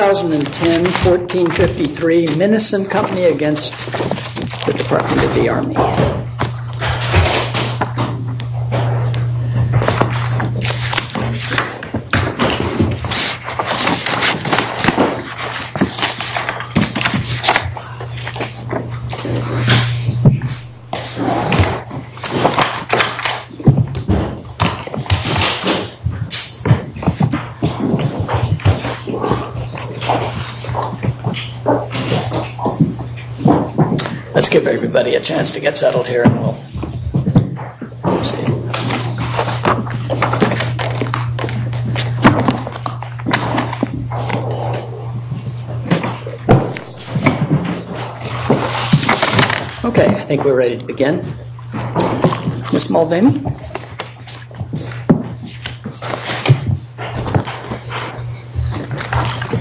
2010-1453 MINESEN Company against the Department of the Army. Let's give everybody a chance to get settled here and we'll see. Okay, I think we're ready to begin. Ms. Mulvaney.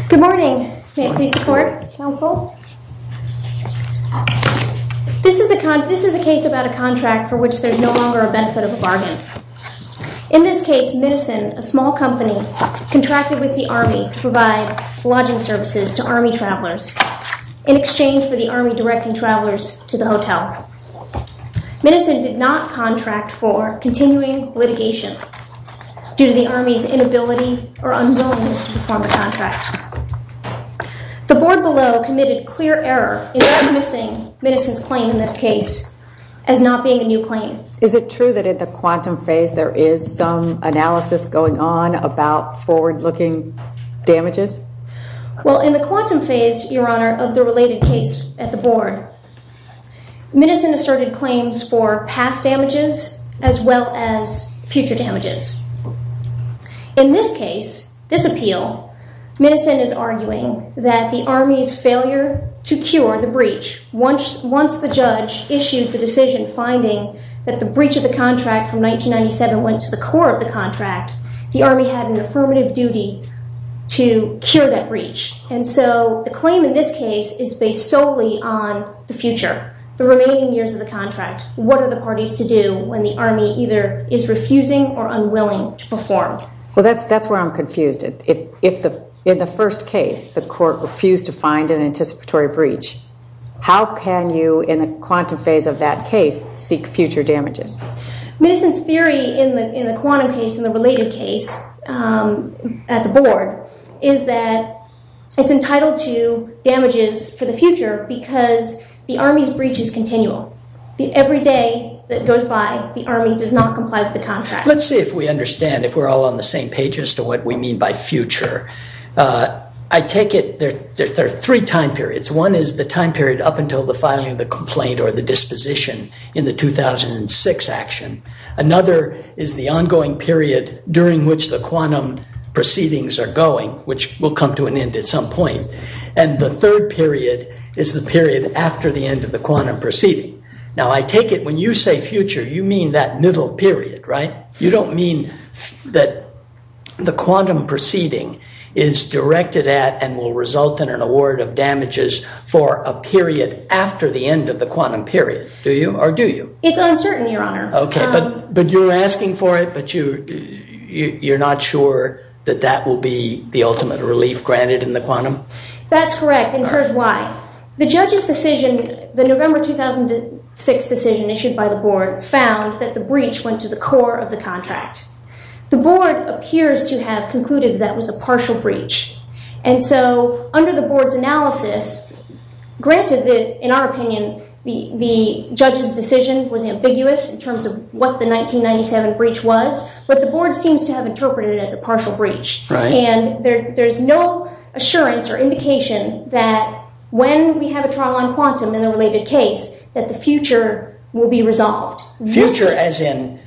Good morning. May it please the Court? Counsel. This is a case about a contract for which there's no longer a benefit of a bargain. In this case, Minesen, a small company, contracted with the Army to provide lodging services to Army travelers in exchange for the Army directing travelers to the hotel. Minesen did not contract for continuing litigation due to the Army's inability or unwillingness to perform a contract. The Board below committed clear error in dismissing Minesen's claim in this case as not being a new claim. Is it true that at the quantum phase there is some analysis going on about forward-looking damages? Well, in the quantum phase, Your Honor, of the related case at the Board, Minesen asserted claims for past damages as well as future damages. In this case, this appeal, Minesen is arguing that the Army's failure to cure the breach, once the judge issued the decision finding that the breach of the contract from 1997 went to the core of the contract, the Army had an affirmative duty to cure that breach. And so the claim in this case is based solely on the future, the remaining years of the contract. What are the parties to do when the Army either is refusing or unwilling to perform? Well, that's where I'm confused. If in the first case the court refused to find an anticipatory breach, how can you, in the quantum phase of that case, seek future damages? Minesen's theory in the quantum case and the related case at the Board is that it's entitled to damages for the future because the Army's breach is continual. Every day that goes by, the Army does not comply with the contract. Let's see if we understand, if we're all on the same page as to what we mean by future. I take it there are three time periods. One is the time period up until the filing of the complaint or the disposition in the 2006 action. Another is the ongoing period during which the quantum proceedings are going, which will come to an end at some point. And the third period is the period after the end of the quantum proceeding. Now, I take it when you say future, you mean that middle period, right? You don't mean that the quantum proceeding is directed at and will result in an award of damages for a period after the end of the quantum period, do you, or do you? It's uncertain, Your Honor. OK, but you're asking for it, but you're not sure that that will be the ultimate relief granted in the quantum? That's correct, and here's why. The judge's decision, the November 2006 decision issued by the board, found that the breach went to the core of the contract. The board appears to have concluded that was a partial breach, and so under the board's analysis, granted that, in our opinion, the judge's decision was ambiguous in terms of what the 1997 breach was, but the board seems to have interpreted it as a partial breach. And there's no assurance or indication that when we have a trial on quantum in the related case, that the future will be resolved. Future as in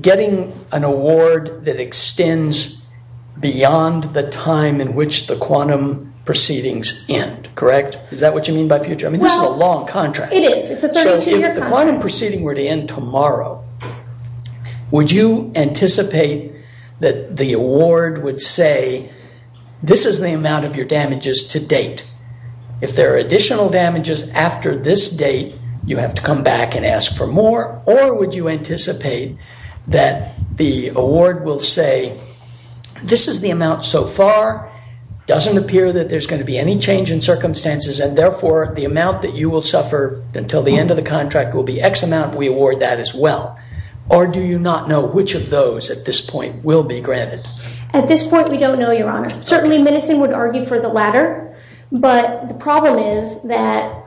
getting an award that extends beyond the time in which the quantum proceedings end, correct? Is that what you mean by future? I mean, this is a long contract. It is. It's a 32-year contract. If the quantum proceeding were to end tomorrow, would you anticipate that the award would say, this is the amount of your damages to date. If there are additional damages after this date, you have to come back and ask for more, or would you anticipate that the award will say, this is the amount so far, doesn't appear that there's going to be any change in circumstances, and therefore, the amount that you will suffer until the end of the contract will be X amount, and we award that as well? Or do you not know which of those at this point will be granted? At this point, we don't know, Your Honor. Certainly, Minnison would argue for the latter, but the problem is that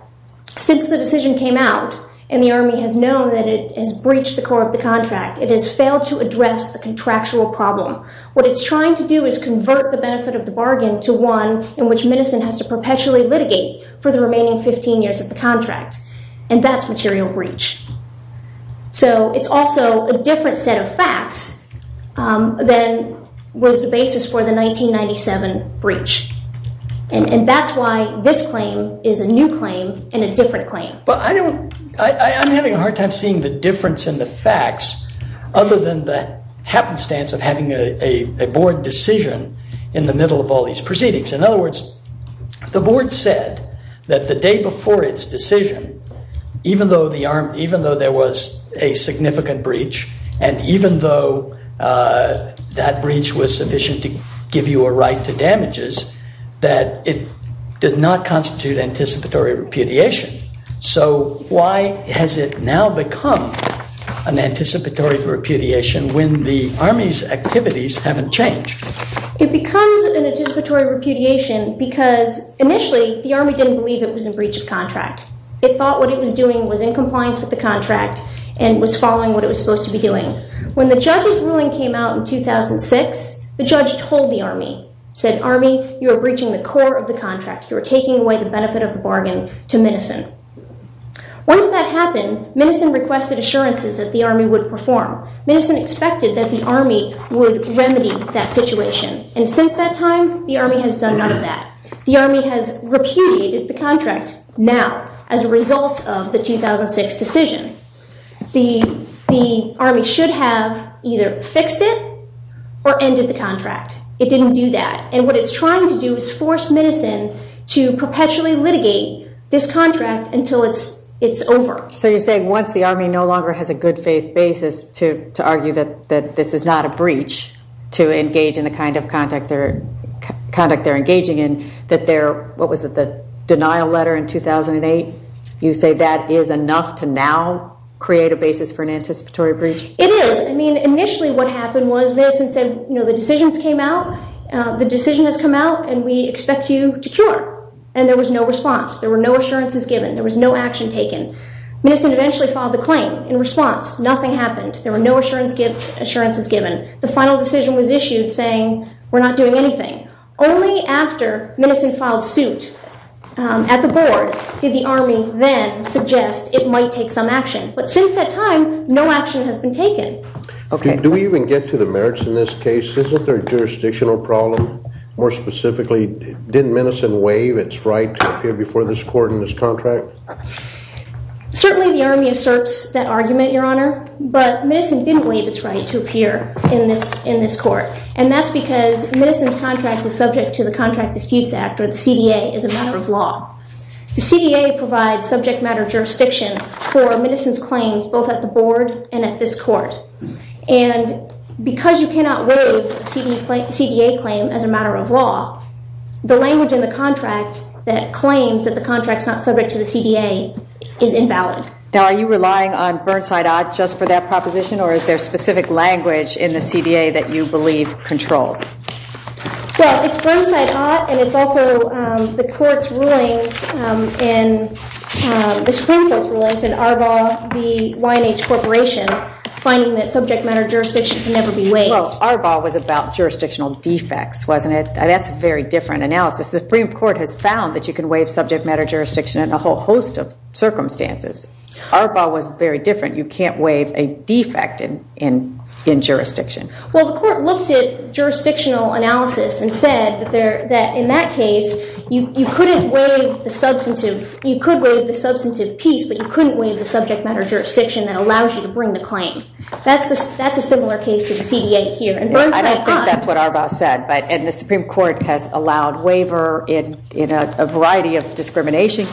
since the decision came out and the Army has known that it has breached the core of the contract, it has failed to address the contractual problem. What it's trying to do is convert the benefit of the bargain to one in which Minnison has to perpetually litigate. for the remaining 15 years of the contract, and that's material breach. So it's also a different set of facts than was the basis for the 1997 breach, and that's why this claim is a new claim and a different claim. I'm having a hard time seeing the difference in the facts, other than the happenstance of having a board decision in the middle of all these proceedings. In other words, the board said that the day before its decision, even though there was a significant breach, and even though that breach was sufficient to give you a right to damages, that it does not constitute anticipatory repudiation. So why has it now become an anticipatory repudiation when the Army's activities haven't changed? It becomes an anticipatory repudiation because initially the Army didn't believe it was in breach of contract. It thought what it was doing was in compliance with the contract and was following what it was supposed to be doing. When the judge's ruling came out in 2006, the judge told the Army, said, Army, you are breaching the core of the contract. You are taking away the benefit of the bargain to Minnison. Once that happened, Minnison requested assurances that the Army would perform. Minnison expected that the Army would remedy that situation. And since that time, the Army has done none of that. The Army has repudiated the contract now as a result of the 2006 decision. The Army should have either fixed it or ended the contract. It didn't do that. And what it's trying to do is force Minnison to perpetually litigate this contract until it's over. So you're saying once the Army no longer has a good faith basis to argue that this is not a breach to engage in the kind of conduct they're engaging in, that their, what was it, the denial letter in 2008, you say that is enough to now create a basis for an anticipatory breach? It is. I mean, initially what happened was Minnison said, you know, the decisions came out, the decision has come out, and we expect you to cure. And there was no response. There were no assurances given. There was no action taken. Minnison eventually filed the claim. In response, nothing happened. There were no assurances given. The final decision was issued saying we're not doing anything. Only after Minnison filed suit at the Board did the Army then suggest it might take some action. But since that time, no action has been taken. Do we even get to the merits in this case? Isn't there a jurisdictional problem? More specifically, didn't Minnison waive its right to appear before this court in this contract? Certainly the Army asserts that argument, Your Honor, but Minnison didn't waive its right to appear in this court, and that's because Minnison's contract is subject to the Contract Disputes Act, or the CDA is a matter of law. The CDA provides subject matter jurisdiction for Minnison's claims both at the Board and at this court. And because you cannot waive a CDA claim as a matter of law, the language in the contract that claims that the contract is not subject to the CDA is invalid. Now, are you relying on Burnside Ott just for that proposition, or is there specific language in the CDA that you believe controls? Well, it's Burnside Ott, and it's also the Supreme Court's rulings and Arbaugh v. Y&H Corporation finding that subject matter jurisdiction can never be waived. Well, Arbaugh was about jurisdictional defects, wasn't it? That's a very different analysis. The Supreme Court has found that you can waive subject matter jurisdiction in a whole host of circumstances. Arbaugh was very different. You can't waive a defect in jurisdiction. Well, the Court looked at jurisdictional analysis and said that in that case, you could waive the substantive piece, but you couldn't waive the subject matter jurisdiction that allows you to bring the claim. That's a similar case to the CDA here. I don't think that's what Arbaugh said, and the Supreme Court has allowed waiver in a variety of discrimination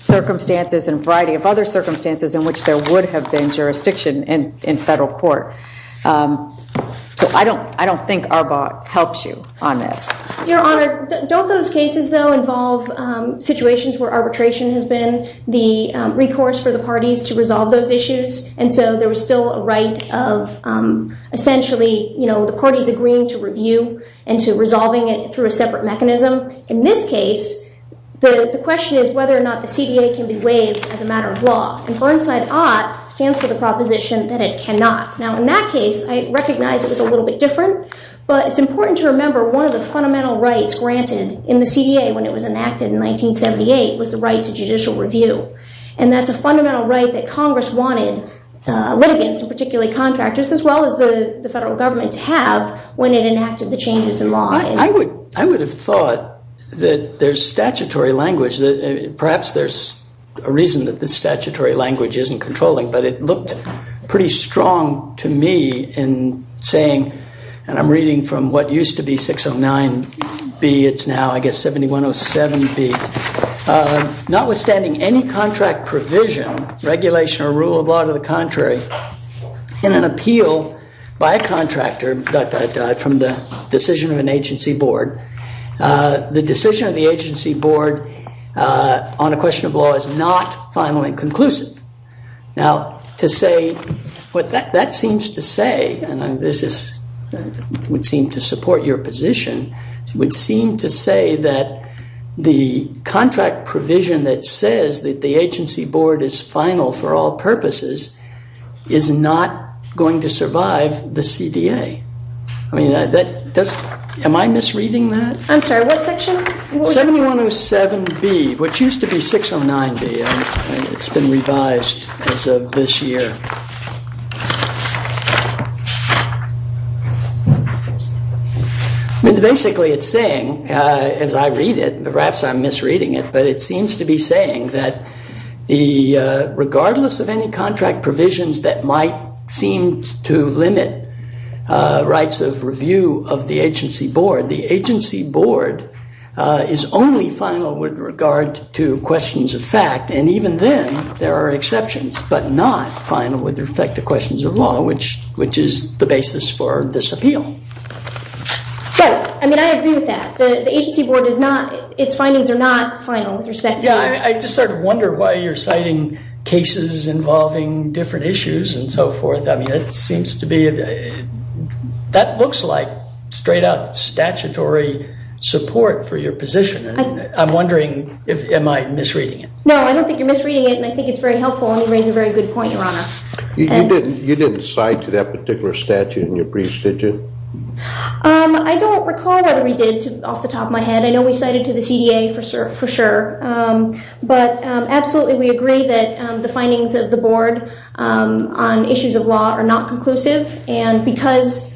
circumstances and a variety of other circumstances in which there would have been jurisdiction in federal court. So I don't think Arbaugh helps you on this. Your Honor, don't those cases, though, involve situations where arbitration has been the recourse for the parties to resolve those issues, and so there was still a right of essentially the parties agreeing to review and to resolving it through a separate mechanism? In this case, the question is whether or not the CDA can be waived as a matter of law, and Burnside OTT stands for the proposition that it cannot. Now, in that case, I recognize it was a little bit different, but it's important to remember one of the fundamental rights granted in the CDA when it was enacted in 1978 was the right to judicial review, and that's a fundamental right that Congress wanted litigants, particularly contractors, as well as the federal government to have when it enacted the changes in law. I would have thought that there's statutory language. Perhaps there's a reason that the statutory language isn't controlling, but it looked pretty strong to me in saying, and I'm reading from what used to be 609B. It's now, I guess, 7107B. Notwithstanding any contract provision, regulation, or rule of law to the contrary, in an appeal by a contractor from the decision of an agency board, the decision of the agency board on a question of law is not finally conclusive. Now, to say what that seems to say, and this would seem to support your position, would seem to say that the contract provision that says that the agency board is final for all purposes is not going to survive the CDA. I mean, am I misreading that? I'm sorry, what section? 7107B, which used to be 609B. It's been revised as of this year. I mean, basically it's saying, as I read it, perhaps I'm misreading it, but it seems to be saying that regardless of any contract provisions that might seem to limit rights of review of the agency board, the agency board is only final with regard to questions of fact. And even then, there are exceptions, but not final with respect to questions of law, which is the basis for this appeal. So, I mean, I agree with that. The agency board is not, its findings are not final with respect to. Yeah, I just sort of wonder why you're citing cases involving different issues and so forth. I mean, it seems to be, that looks like straight-up statutory support for your position. I'm wondering, am I misreading it? No, I don't think you're misreading it, and I think it's very helpful, and you raise a very good point, Your Honor. You didn't cite to that particular statute in your briefs, did you? I don't recall whether we did off the top of my head. I know we cited to the CDA for sure, but absolutely we agree that the findings of the board on issues of law are not conclusive, and because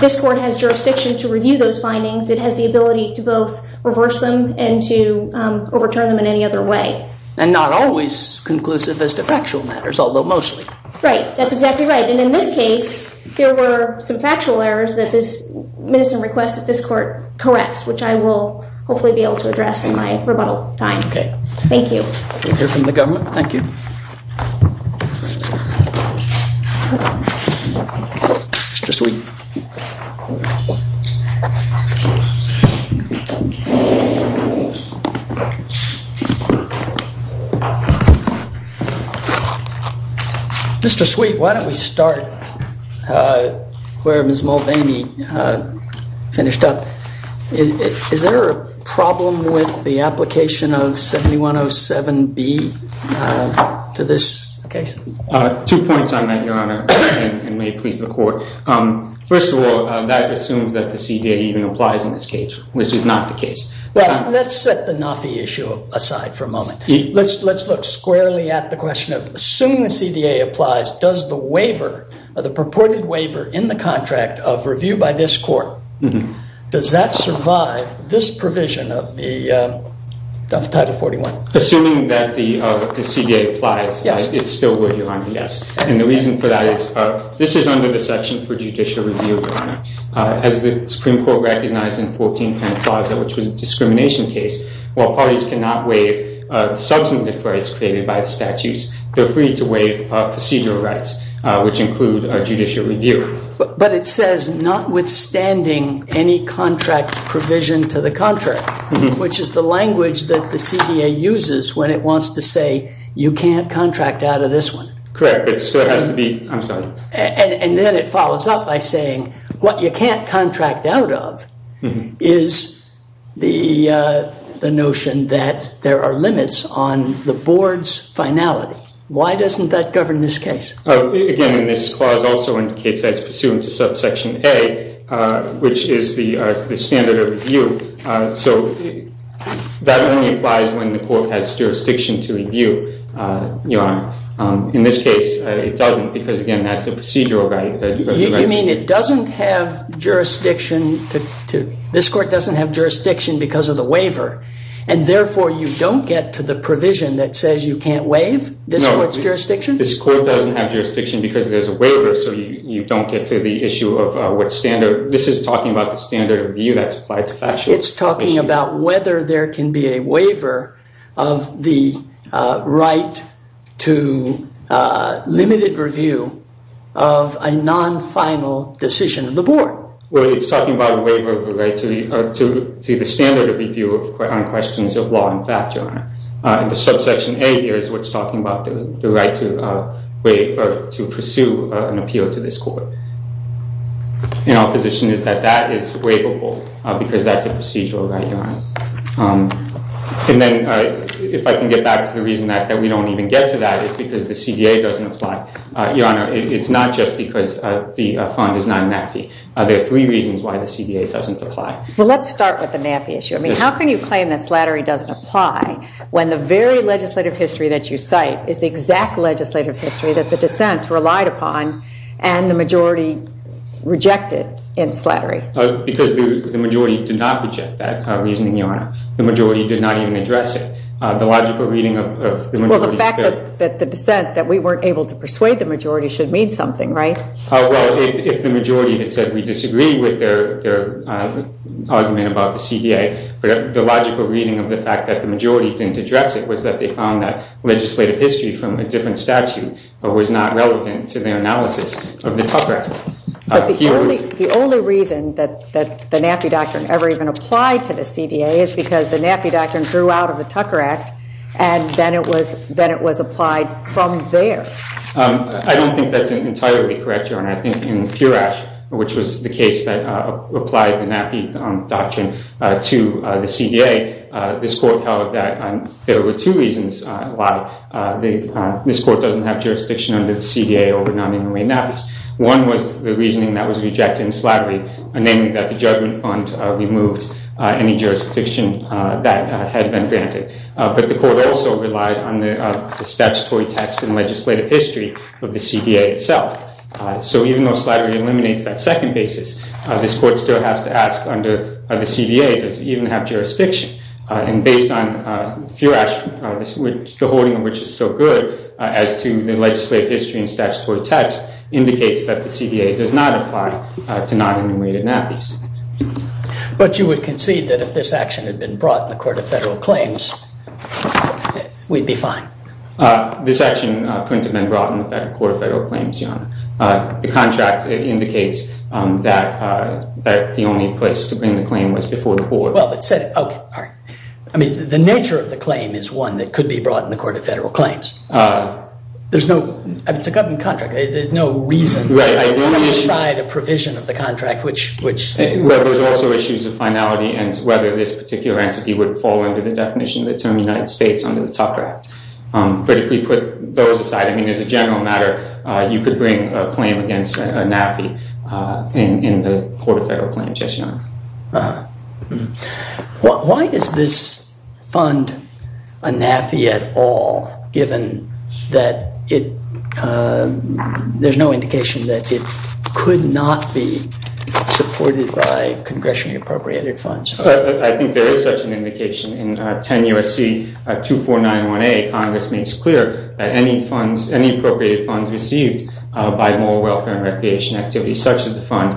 this court has jurisdiction to review those findings, it has the ability to both reverse them and to overturn them in any other way. And not always conclusive as to factual matters, although mostly. Right, that's exactly right. And in this case, there were some factual errors that this medicine request that this court corrects, which I will hopefully be able to address in my rebuttal time. Okay. Thank you. We'll hear from the government. Thank you. Mr. Sweet. Why don't we start where Ms. Mulvaney finished up. Is there a problem with the application of 7107B to this case? Two points on that, Your Honor, and may it please the court. First of all, that assumes that the CDA even applies in this case, which is not the case. Let's set the NAFI issue aside for a moment. Let's look squarely at the question of assuming the CDA applies, does the waiver, the purported waiver in the contract of review by this court, does that survive this provision of Title 41? Assuming that the CDA applies, it still would, Your Honor, yes. And the reason for that is this is under the section for judicial review, Your Honor. As the Supreme Court recognized in 1410 Plaza, which was a discrimination case, while parties cannot waive substantive rights created by the statutes, they're free to waive procedural rights, which include judicial review. But it says notwithstanding any contract provision to the contract, which is the language that the CDA uses when it wants to say you can't contract out of this one. Correct. It still has to be, I'm sorry. And then it follows up by saying what you can't contract out of is the notion that there are limits on the board's finality. Why doesn't that govern this case? Again, this clause also indicates that it's pursuant to subsection A, which is the standard of review. In this case, it doesn't because, again, that's a procedural right. You mean it doesn't have jurisdiction? This court doesn't have jurisdiction because of the waiver, and therefore you don't get to the provision that says you can't waive this court's jurisdiction? This court doesn't have jurisdiction because there's a waiver, so you don't get to the issue of what standard. This is talking about the standard of view that's applied to factual. It's talking about whether there can be a waiver of the right to limited review of a non-final decision of the board. Well, it's talking about a waiver of the right to the standard of review on questions of law and factual. The subsection A here is what's talking about the right to pursue an appeal to this court. And our position is that that is waivable because that's a procedural right, Your Honor. And then if I can get back to the reason that we don't even get to that, it's because the CDA doesn't apply. Your Honor, it's not just because the fund is not a NAFI. There are three reasons why the CDA doesn't apply. Well, let's start with the NAFI issue. I mean, how can you claim that slattery doesn't apply when the very legislative history that you cite is the exact legislative history that the dissent relied upon and the majority rejected in slattery? Because the majority did not reject that reasoning, Your Honor. The majority did not even address it. The logical reading of the majority's bill. Well, the fact that the dissent that we weren't able to persuade the majority should mean something, right? Well, if the majority had said we disagree with their argument about the CDA, the logical reading of the fact that the majority didn't address it was that they found that legislative history from a different statute was not relevant to their analysis of the Tucker Act. The only reason that the NAFI doctrine ever even applied to the CDA is because the NAFI doctrine threw out of the Tucker Act, and then it was applied from there. I don't think that's entirely correct, Your Honor. I think in Purash, which was the case that applied the NAFI doctrine to the CDA, this court held that there were two reasons why this court doesn't have jurisdiction under the CDA over non-enumerated NAFIs. One was the reasoning that was rejected in slattery, namely that the judgment fund removed any jurisdiction that had been granted. But the court also relied on the statutory text and legislative history of the CDA itself. So even though slattery eliminates that second basis, this court still has to ask under the CDA, does it even have jurisdiction? And based on Purash, the holding of which is so good, as to the legislative history and statutory text, indicates that the CDA does not apply to non-enumerated NAFIs. But you would concede that if this action had been brought in the Court of Federal Claims, we'd be fine? This action couldn't have been brought in the Court of Federal Claims, Your Honor. The contract indicates that the only place to bring the claim was before the board. Well, but said, okay, all right. I mean, the nature of the claim is one that could be brought in the Court of Federal Claims. There's no, I mean, it's a government contract. There's no reason to set aside a provision of the contract, which— Well, there's also issues of finality and whether this particular entity would fall under the definition of the term United States under the Tucker Act. But if we put those aside, I mean, as a general matter, you could bring a claim against a NAFI in the Court of Federal Claims, yes, Your Honor. Why is this fund a NAFI at all, given that it, there's no indication that it could not be supported by congressionally appropriated funds? I think there is such an indication. In 10 U.S.C. 2491A, Congress makes clear that any funds, any appropriated funds received by moral welfare and recreation activities, such as the fund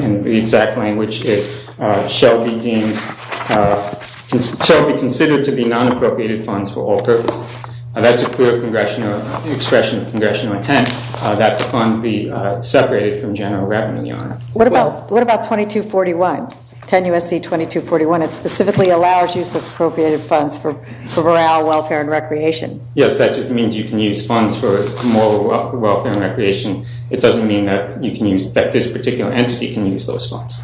in the exact language is, shall be deemed, shall be considered to be non-appropriated funds for all purposes. That's a clear congressional, expression of congressional intent, that the fund be separated from general revenue, Your Honor. What about 2241, 10 U.S.C. 2241? It specifically allows use of appropriated funds for morale, welfare, and recreation. Yes, that just means you can use funds for moral welfare and recreation. It doesn't mean that you can use, that this particular entity can use those funds.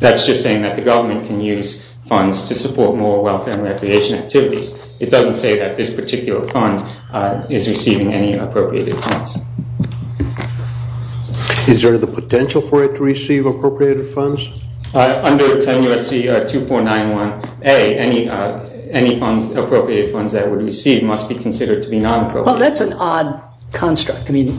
That's just saying that the government can use funds to support moral welfare and recreation activities. It doesn't say that this particular fund is receiving any appropriated funds. Is there the potential for it to receive appropriated funds? Under 10 U.S.C. 2491A, any funds, appropriated funds that it would receive must be considered to be non-appropriated. Well, that's an odd construct. I mean,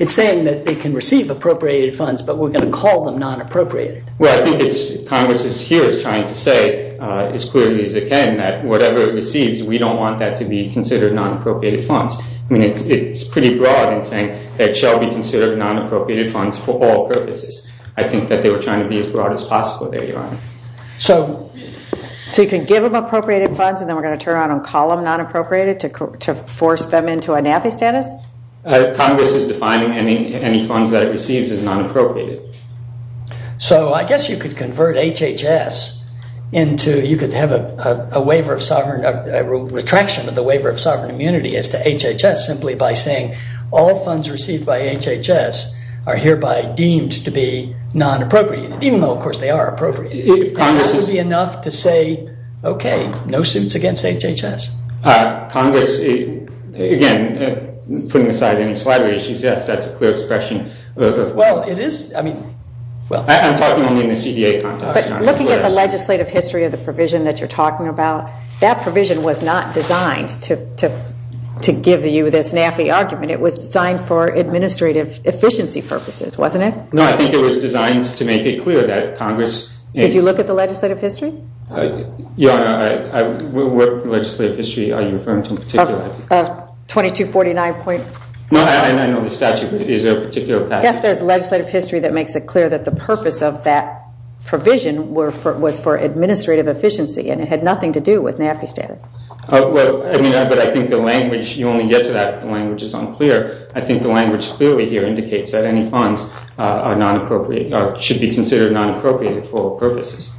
it's saying that it can receive appropriated funds, but we're going to call them non-appropriated. Well, I think it's, Congress is here is trying to say, as clearly as it can, that whatever it receives, we don't want that to be considered non-appropriated funds. I mean, it's pretty broad in saying that it shall be considered non-appropriated funds for all purposes. I think that they were trying to be as broad as possible there, Your Honor. So you can give them appropriated funds, and then we're going to turn around and call them non-appropriated to force them into a NAFI status? Congress is defining any funds that it receives as non-appropriated. So I guess you could convert HHS into, you could have a waiver of sovereign, a retraction of the waiver of sovereign immunity as to HHS simply by saying, all funds received by HHS are hereby deemed to be non-appropriated, even though, of course, they are appropriate. It has to be enough to say, okay, no suits against HHS. Congress, again, putting aside any slidery issues, yes, that's a clear expression. Well, it is, I mean, well. I'm talking only in the CDA context, Your Honor. When you're looking at the legislative history of the provision that you're talking about, that provision was not designed to give you this NAFI argument. It was designed for administrative efficiency purposes, wasn't it? No, I think it was designed to make it clear that Congress. Did you look at the legislative history? Your Honor, what legislative history are you referring to in particular? 2249. No, I know the statute, but is there a particular passage? Yes, there's legislative history that makes it clear that the purpose of that provision was for administrative efficiency, and it had nothing to do with NAFI status. Well, I mean, but I think the language, you only get to that if the language is unclear. I think the language clearly here indicates that any funds are non-appropriated or should be considered non-appropriated for purposes.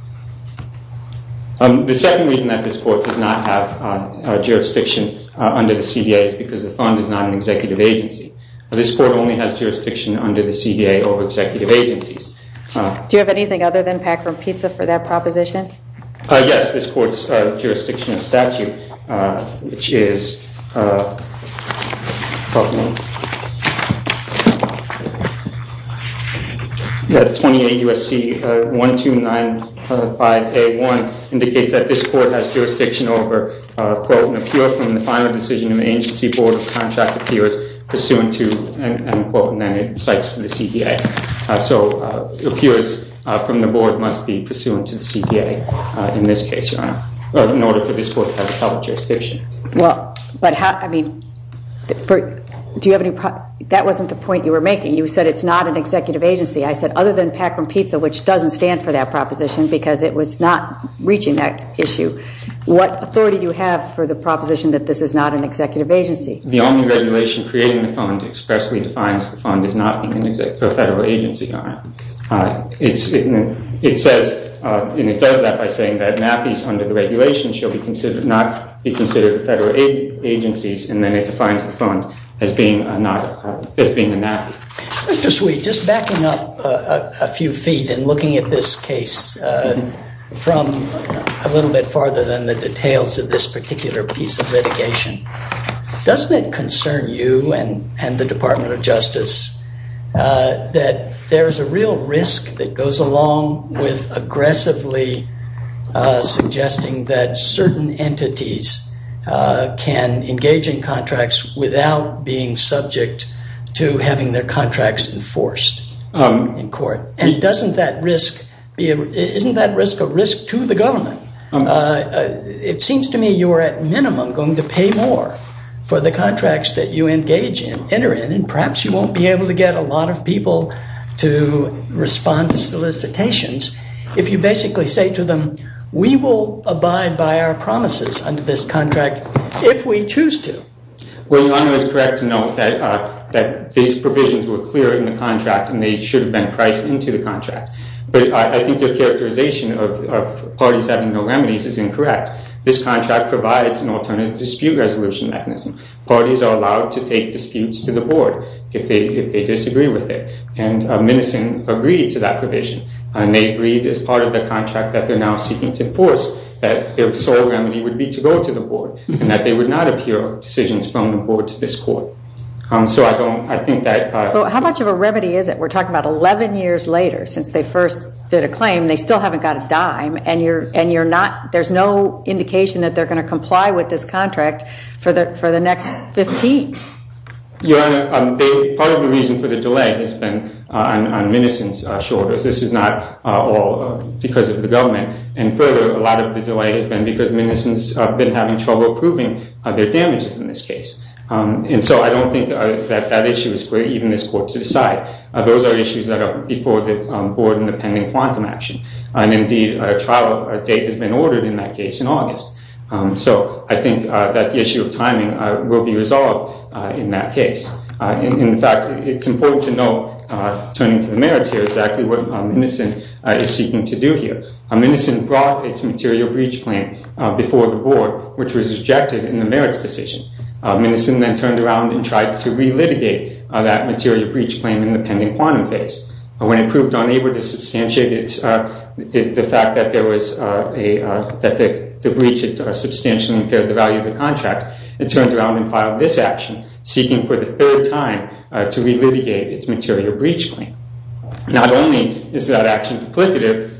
The second reason that this Court does not have jurisdiction under the CDA is because the fund is not an executive agency. This Court only has jurisdiction under the CDA over executive agencies. Do you have anything other than pack for pizza for that proposition? Yes, this Court's jurisdiction of statute, which is 28 U.S.C. 1295A1, indicates that this Court has jurisdiction over, quote, and then it cites the CDA. So it appears from the board must be pursuant to the CDA in this case, Your Honor, in order for this Court to have public jurisdiction. Well, but how, I mean, do you have any, that wasn't the point you were making. You said it's not an executive agency. I said other than pack for pizza, which doesn't stand for that proposition because it was not reaching that issue. What authority do you have for the proposition that this is not an executive agency? The only regulation creating the fund expressly defines the fund as not being a federal agency, Your Honor. It says, and it does that by saying that NAAFI's under the regulation should not be considered federal agencies, and then it defines the fund as being a NAAFI. Mr. Sweet, just backing up a few feet and looking at this case from a little bit farther than the details of this particular piece of litigation, doesn't it concern you and the Department of Justice that there is a real risk that goes along with aggressively suggesting that certain entities can engage in contracts without being subject to having their contracts enforced in court? And doesn't that risk, isn't that risk a risk to the government? It seems to me you are at minimum going to pay more for the contracts that you engage in, enter in, and perhaps you won't be able to get a lot of people to respond to solicitations if you basically say to them, we will abide by our promises under this contract if we choose to. Well, Your Honor, it's correct to note that these provisions were clear in the contract and they should have been priced into the contract. But I think your characterization of parties having no remedies is incorrect. This contract provides an alternative dispute resolution mechanism. Parties are allowed to take disputes to the board if they disagree with it, and Minnison agreed to that provision, and they agreed as part of the contract that they're now seeking to enforce that their sole remedy would be to go to the board and that they would not appeal decisions from the board to this court. How much of a remedy is it? We're talking about 11 years later since they first did a claim. They still haven't got a dime, and there's no indication that they're going to comply with this contract for the next 15. Your Honor, part of the reason for the delay has been on Minnison's shoulders. This is not all because of the government. And further, a lot of the delay has been because Minnison's been having trouble proving their damages in this case. And so I don't think that that issue is for even this court to decide. Those are issues that are before the board in the pending quantum action. And indeed, a trial date has been ordered in that case in August. So I think that the issue of timing will be resolved in that case. In fact, it's important to note, turning to the merits here, exactly what Minnison is seeking to do here. Minnison brought its material breach claim before the board, which was rejected in the merits decision. Minnison then turned around and tried to re-litigate that material breach claim in the pending quantum phase. When it proved unable to substantiate the fact that the breach substantially impaired the value of the contract, it turned around and filed this action, seeking for the third time to re-litigate its material breach claim. Not only is that action complicative,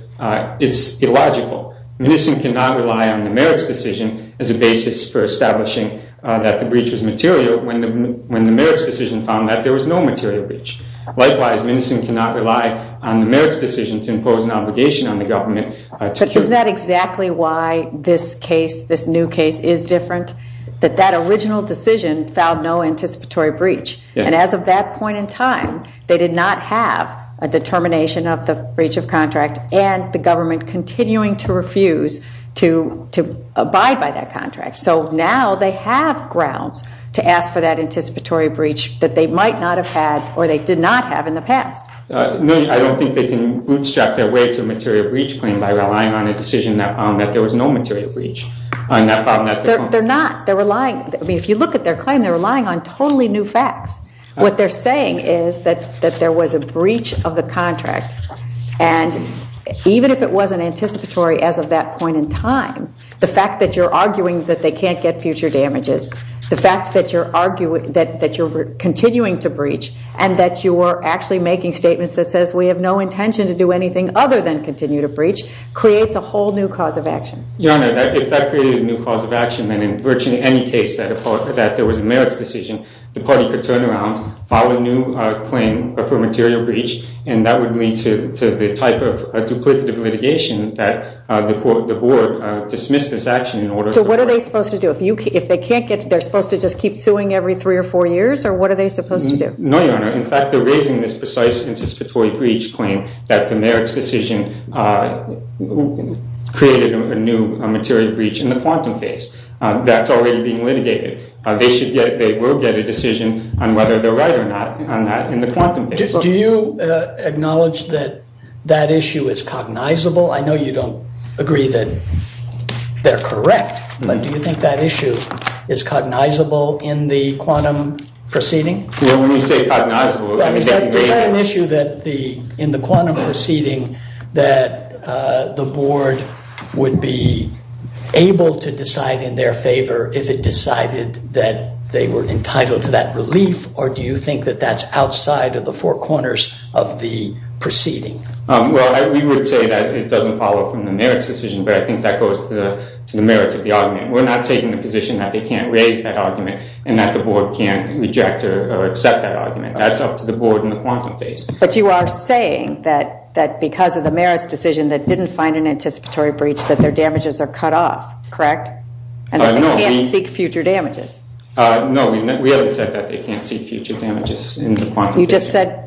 it's illogical. Minnison cannot rely on the merits decision as a basis for establishing that the breach was material when the merits decision found that there was no material breach. Likewise, Minnison cannot rely on the merits decision to impose an obligation on the government. But isn't that exactly why this case, this new case, is different? That that original decision filed no anticipatory breach. And as of that point in time, they did not have a determination of the breach of contract and the government continuing to refuse to abide by that contract. So now they have grounds to ask for that anticipatory breach that they might not have had or they did not have in the past. I don't think they can bootstrap their way to a material breach claim by relying on a decision that found that there was no material breach. They're not. They're relying. I mean, if you look at their claim, they're relying on totally new facts. What they're saying is that there was a breach of the contract. And even if it wasn't anticipatory as of that point in time, the fact that you're arguing that they can't get future damages, the fact that you're arguing that you're continuing to breach and that you were actually making statements that says we have no intention to do anything other than continue to breach creates a whole new cause of action. Your Honor, if that created a new cause of action, then in virtually any case that there was a merits decision, the party could turn around, file a new claim for a material breach, and that would lead to the type of duplicative litigation that the board dismissed this action in order to- So what are they supposed to do? If they can't get-they're supposed to just keep suing every three or four years? Or what are they supposed to do? No, Your Honor. In fact, they're raising this precise anticipatory breach claim that the merits decision created a new material breach in the quantum phase. That's already being litigated. They should get-they will get a decision on whether they're right or not on that in the quantum phase. Do you acknowledge that that issue is cognizable? I know you don't agree that they're correct, but do you think that issue is cognizable in the quantum proceeding? Well, when you say cognizable- Is that an issue in the quantum proceeding that the board would be able to decide in their favor if it decided that they were entitled to that relief, or do you think that that's outside of the four corners of the proceeding? Well, we would say that it doesn't follow from the merits decision, but I think that goes to the merits of the argument. We're not taking the position that they can't raise that argument and that the board can't reject or accept that argument. That's up to the board in the quantum phase. But you are saying that because of the merits decision that didn't find an anticipatory breach that their damages are cut off, correct? And that they can't seek future damages. No, we haven't said that they can't seek future damages in the quantum procedure. You just said-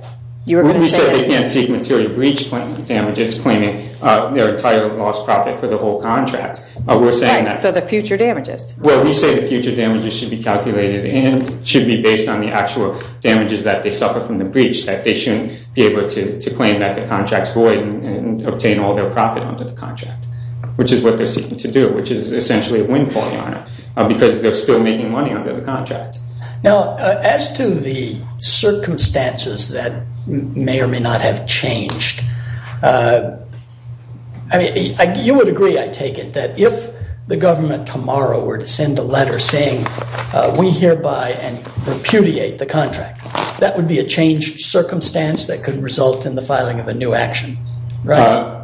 We said they can't seek material breach damages, claiming their entire lost profit for the whole contract. We're saying that- Right, so the future damages. Well, we say the future damages should be calculated and should be based on the actual damages that they suffer from the breach, that they shouldn't be able to claim that the contract's void and obtain all their profit under the contract, which is what they're seeking to do, which is essentially a windfall, Your Honor, because they're still making money under the contract. Now, as to the circumstances that may or may not have changed, you would agree, I take it, that if the government tomorrow were to send a letter saying we hereby repudiate the contract, that would be a changed circumstance that could result in the filing of a new action, right?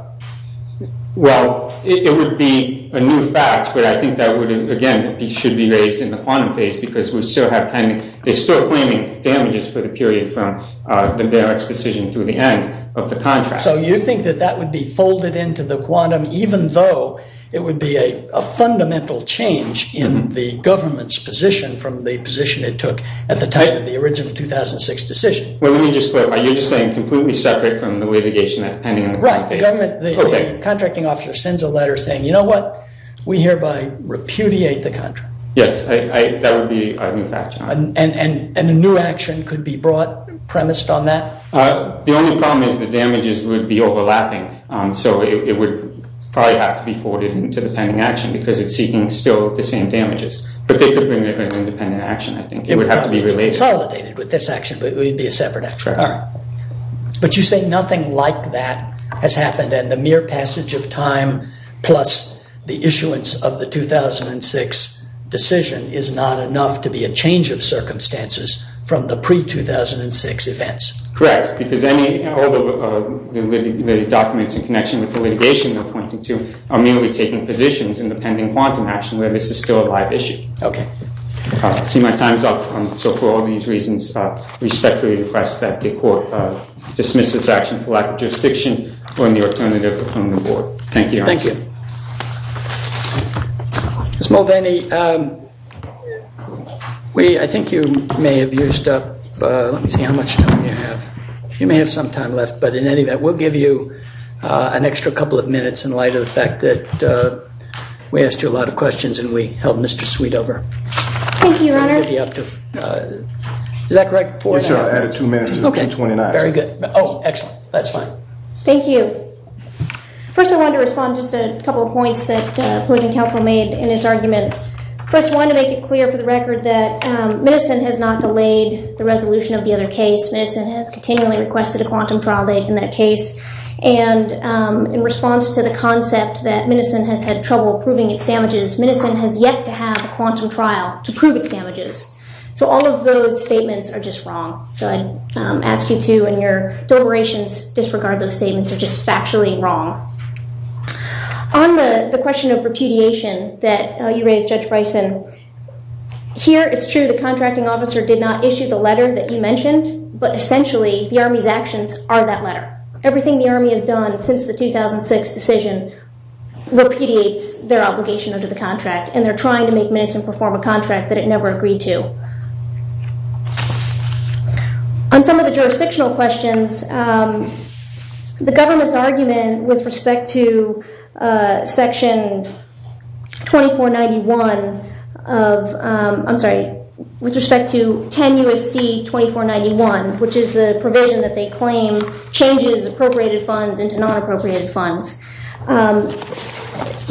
Well, it would be a new fact, but I think that would, again, it should be raised in the quantum phase, because they're still claiming damages for the period from the barracks decision through the end of the contract. So you think that that would be folded into the quantum, even though it would be a fundamental change in the government's position from the position it took at the time of the original 2006 decision? Well, let me just clarify. You're just saying completely separate from the litigation that's pending in the quantum phase? Right. The government, the contracting officer, sends a letter saying, you know what, we hereby repudiate the contract. Yes. That would be a new fact, Your Honor. And a new action could be brought, premised on that? The only problem is the damages would be overlapping, so it would probably have to be forwarded into the pending action because it's seeking still the same damages. But they could bring an independent action, I think. It would have to be related. Consolidated with this action, but it would be a separate action. Right. All right. But you say nothing like that has happened, and the mere passage of time plus the issuance of the 2006 decision is not enough to be a change of circumstances from the pre-2006 events? Correct, because all the documents in connection with the litigation they're pointing to are merely taking positions in the pending quantum action where this is still a live issue. Okay. I see my time is up, so for all these reasons, I respectfully request that the Court dismiss this action for lack of jurisdiction or any alternative from the Board. Thank you, Your Honor. Thank you. Ms. Mulvaney, we, I think you may have used up, let me see how much time you have. You may have some time left, but in any event, we'll give you an extra couple of minutes in light of the fact that we asked you a lot of questions and we held Mr. Sweet over. Thank you, Your Honor. Is that correct? Yes, Your Honor. I added two minutes. Okay. Very good. Oh, excellent. That's fine. Thank you. First, I wanted to respond to just a couple of points that opposing counsel made in his argument. First, I wanted to make it clear for the record that medicine has not delayed the resolution of the other case. Medicine has continually requested a quantum trial date in that case, and in response to the concept that medicine has had trouble proving its damages, medicine has yet to have a quantum trial to prove its damages. So all of those statements are just wrong. So I'd ask you to, in your deliberations, disregard those statements. They're just factually wrong. On the question of repudiation that you raised, Judge Bryson, here it's true the contracting officer did not issue the letter that you mentioned, but essentially the Army's actions are that letter. Everything the Army has done since the 2006 decision repudiates their obligation under the contract, and they're trying to make medicine perform a contract that it never agreed to. On some of the jurisdictional questions, the government's argument with respect to Section 10 U.S.C. 2491, which is the provision that they claim changes appropriated funds into non-appropriated funds,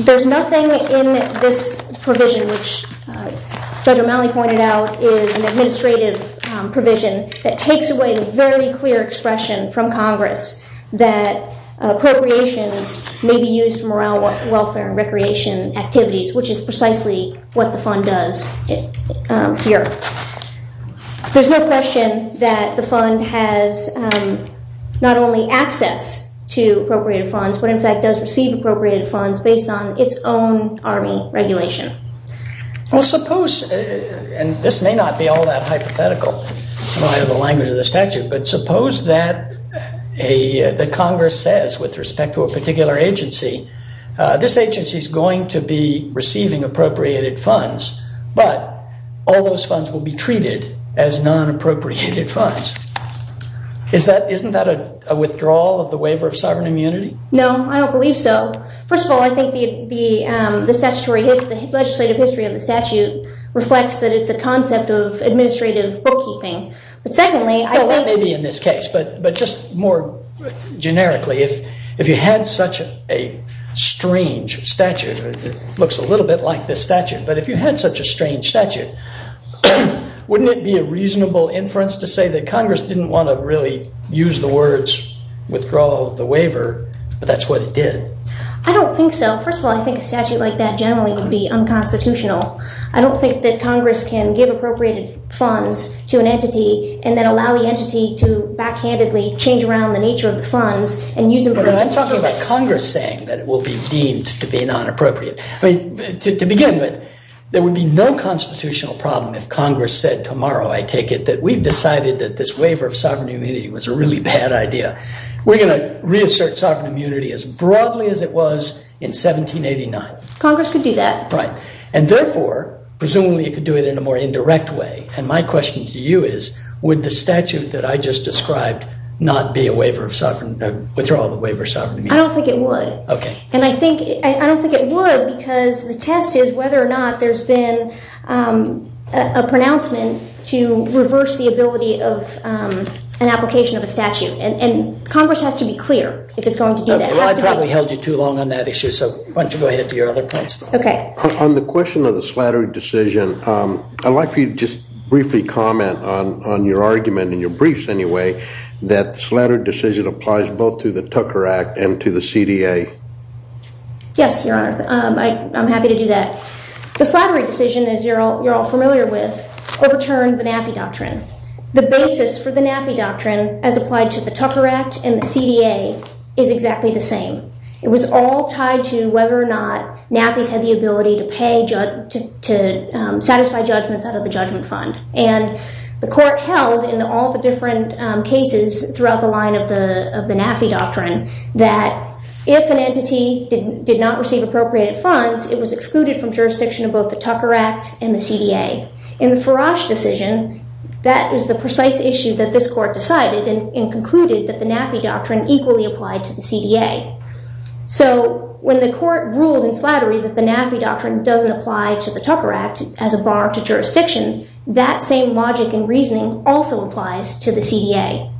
there's nothing in this provision, which Judge O'Malley pointed out, is an administrative provision that takes away the very clear expression from Congress that appropriations may be used for morale, welfare, and recreation activities, which is precisely what the fund does here. There's no question that the fund has not only access to appropriated funds, but in fact does receive appropriated funds based on its own Army regulation. Well, suppose, and this may not be all that hypothetical, I don't have the language of the statute, but suppose that Congress says with respect to a particular agency, this agency's going to be receiving appropriated funds, but all those funds will be treated as non-appropriated funds. Isn't that a withdrawal of the waiver of sovereign immunity? No, I don't believe so. First of all, I think the legislative history of the statute reflects that it's a concept of administrative bookkeeping. That may be in this case, but just more generically, if you had such a strange statute, it looks a little bit like this statute, but if you had such a strange statute, wouldn't it be a reasonable inference to say that Congress didn't want to really use the words withdrawal of the waiver, but that's what it did? I don't think so. First of all, I think a statute like that generally would be unconstitutional. I don't think that Congress can give appropriated funds to an entity and then allow the entity to backhandedly change around the nature of the funds. I'm talking about Congress saying that it will be deemed to be non-appropriate. To begin with, there would be no constitutional problem if Congress said tomorrow, I take it, that we've decided that this waiver of sovereign immunity was a really bad idea. We're going to reassert sovereign immunity as broadly as it was in 1789. Congress could do that. Right, and therefore, presumably it could do it in a more indirect way, and my question to you is, would the statute that I just described not be a waiver of sovereign, a withdrawal of the waiver of sovereign immunity? I don't think it would. Okay. And I think, I don't think it would because the test is whether or not there's been a pronouncement to reverse the ability of an application of a statute, and Congress has to be clear if it's going to do that. Well, I probably held you too long on that issue, so why don't you go ahead to your other points. Okay. On the question of the Slattery decision, I'd like for you to just briefly comment on your argument, in your briefs anyway, that the Slattery decision applies both to the Tucker Act and to the CDA. Yes, Your Honor, I'm happy to do that. The Slattery decision, as you're all familiar with, overturned the NAFI doctrine. The basis for the NAFI doctrine, as applied to the Tucker Act and the CDA, is exactly the same. It was all tied to whether or not NAFIs had the ability to pay, to satisfy judgments out of the judgment fund, and the court held in all the different cases throughout the line of the NAFI doctrine that if an entity did not receive appropriated funds, it was excluded from jurisdiction of both the Tucker Act and the CDA. In the Farage decision, that is the precise issue that this court decided and concluded that the NAFI doctrine equally applied to the CDA. So when the court ruled in Slattery that the NAFI doctrine doesn't apply to the Tucker Act as a bar to jurisdiction, that same logic and reasoning also applies to the CDA.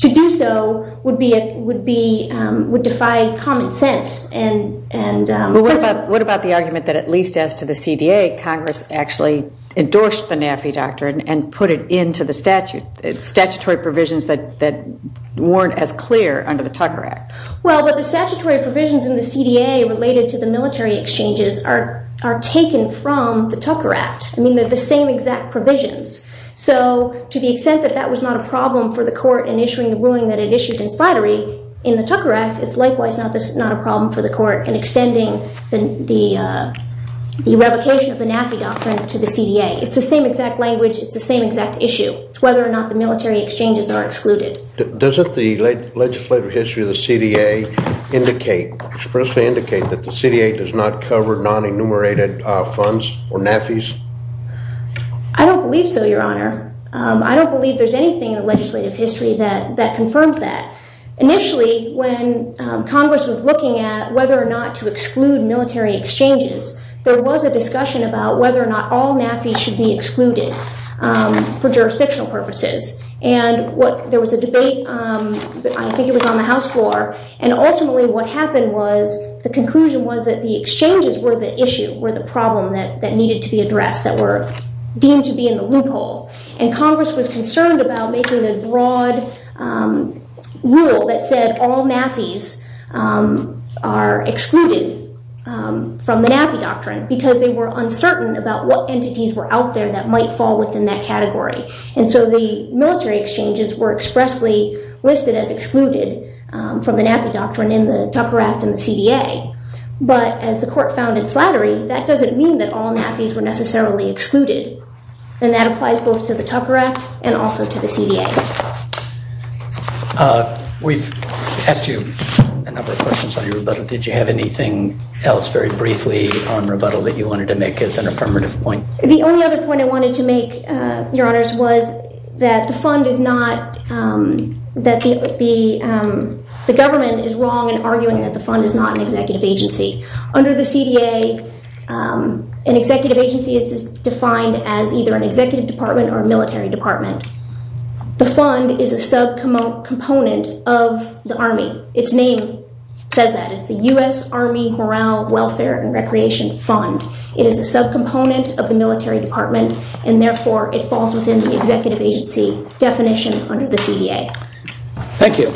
To do so would defy common sense. What about the argument that at least as to the CDA, Congress actually endorsed the NAFI doctrine and put it into the statutory provisions that weren't as clear under the Tucker Act? Well, the statutory provisions in the CDA related to the military exchanges are taken from the Tucker Act. I mean, they're the same exact provisions. So to the extent that that was not a problem for the court in issuing the ruling that it issued in Slattery, in the Tucker Act, it's likewise not a problem for the court in extending the revocation of the NAFI doctrine to the CDA. It's the same exact language. It's the same exact issue. It's whether or not the military exchanges are excluded. Doesn't the legislative history of the CDA indicate, expressly indicate that the CDA does not cover non-enumerated funds or NAFIs? I don't believe so, Your Honor. I don't believe there's anything in the legislative history that confirms that. Initially, when Congress was looking at whether or not to exclude military exchanges, there was a discussion about whether or not all NAFIs should be excluded for jurisdictional purposes. And there was a debate, I think it was on the House floor, and ultimately what happened was the conclusion was that the exchanges were the issue, were the problem that needed to be addressed, that were deemed to be in the loophole. And Congress was concerned about making a broad rule that said all NAFIs are excluded from the NAFI doctrine because they were uncertain about what entities were out there that might fall within that category. And so the military exchanges were expressly listed as excluded from the NAFI doctrine in the Tucker Act and the CDA. But as the court found in Slattery, that doesn't mean that all NAFIs were necessarily excluded. And that applies both to the Tucker Act and also to the CDA. We've asked you a number of questions on your rebuttal. Did you have anything else very briefly on rebuttal that you wanted to make as an affirmative point? The only other point I wanted to make, Your Honors, was that the government is wrong in arguing that the fund is not an executive agency. Under the CDA, an executive agency is defined as either an executive department or a military department. The fund is a subcomponent of the Army. Its name says that. It's the U.S. Army Morale, Welfare, and Recreation Fund. It is a subcomponent of the military department, and therefore it falls within the executive agency definition under the CDA. Thank you.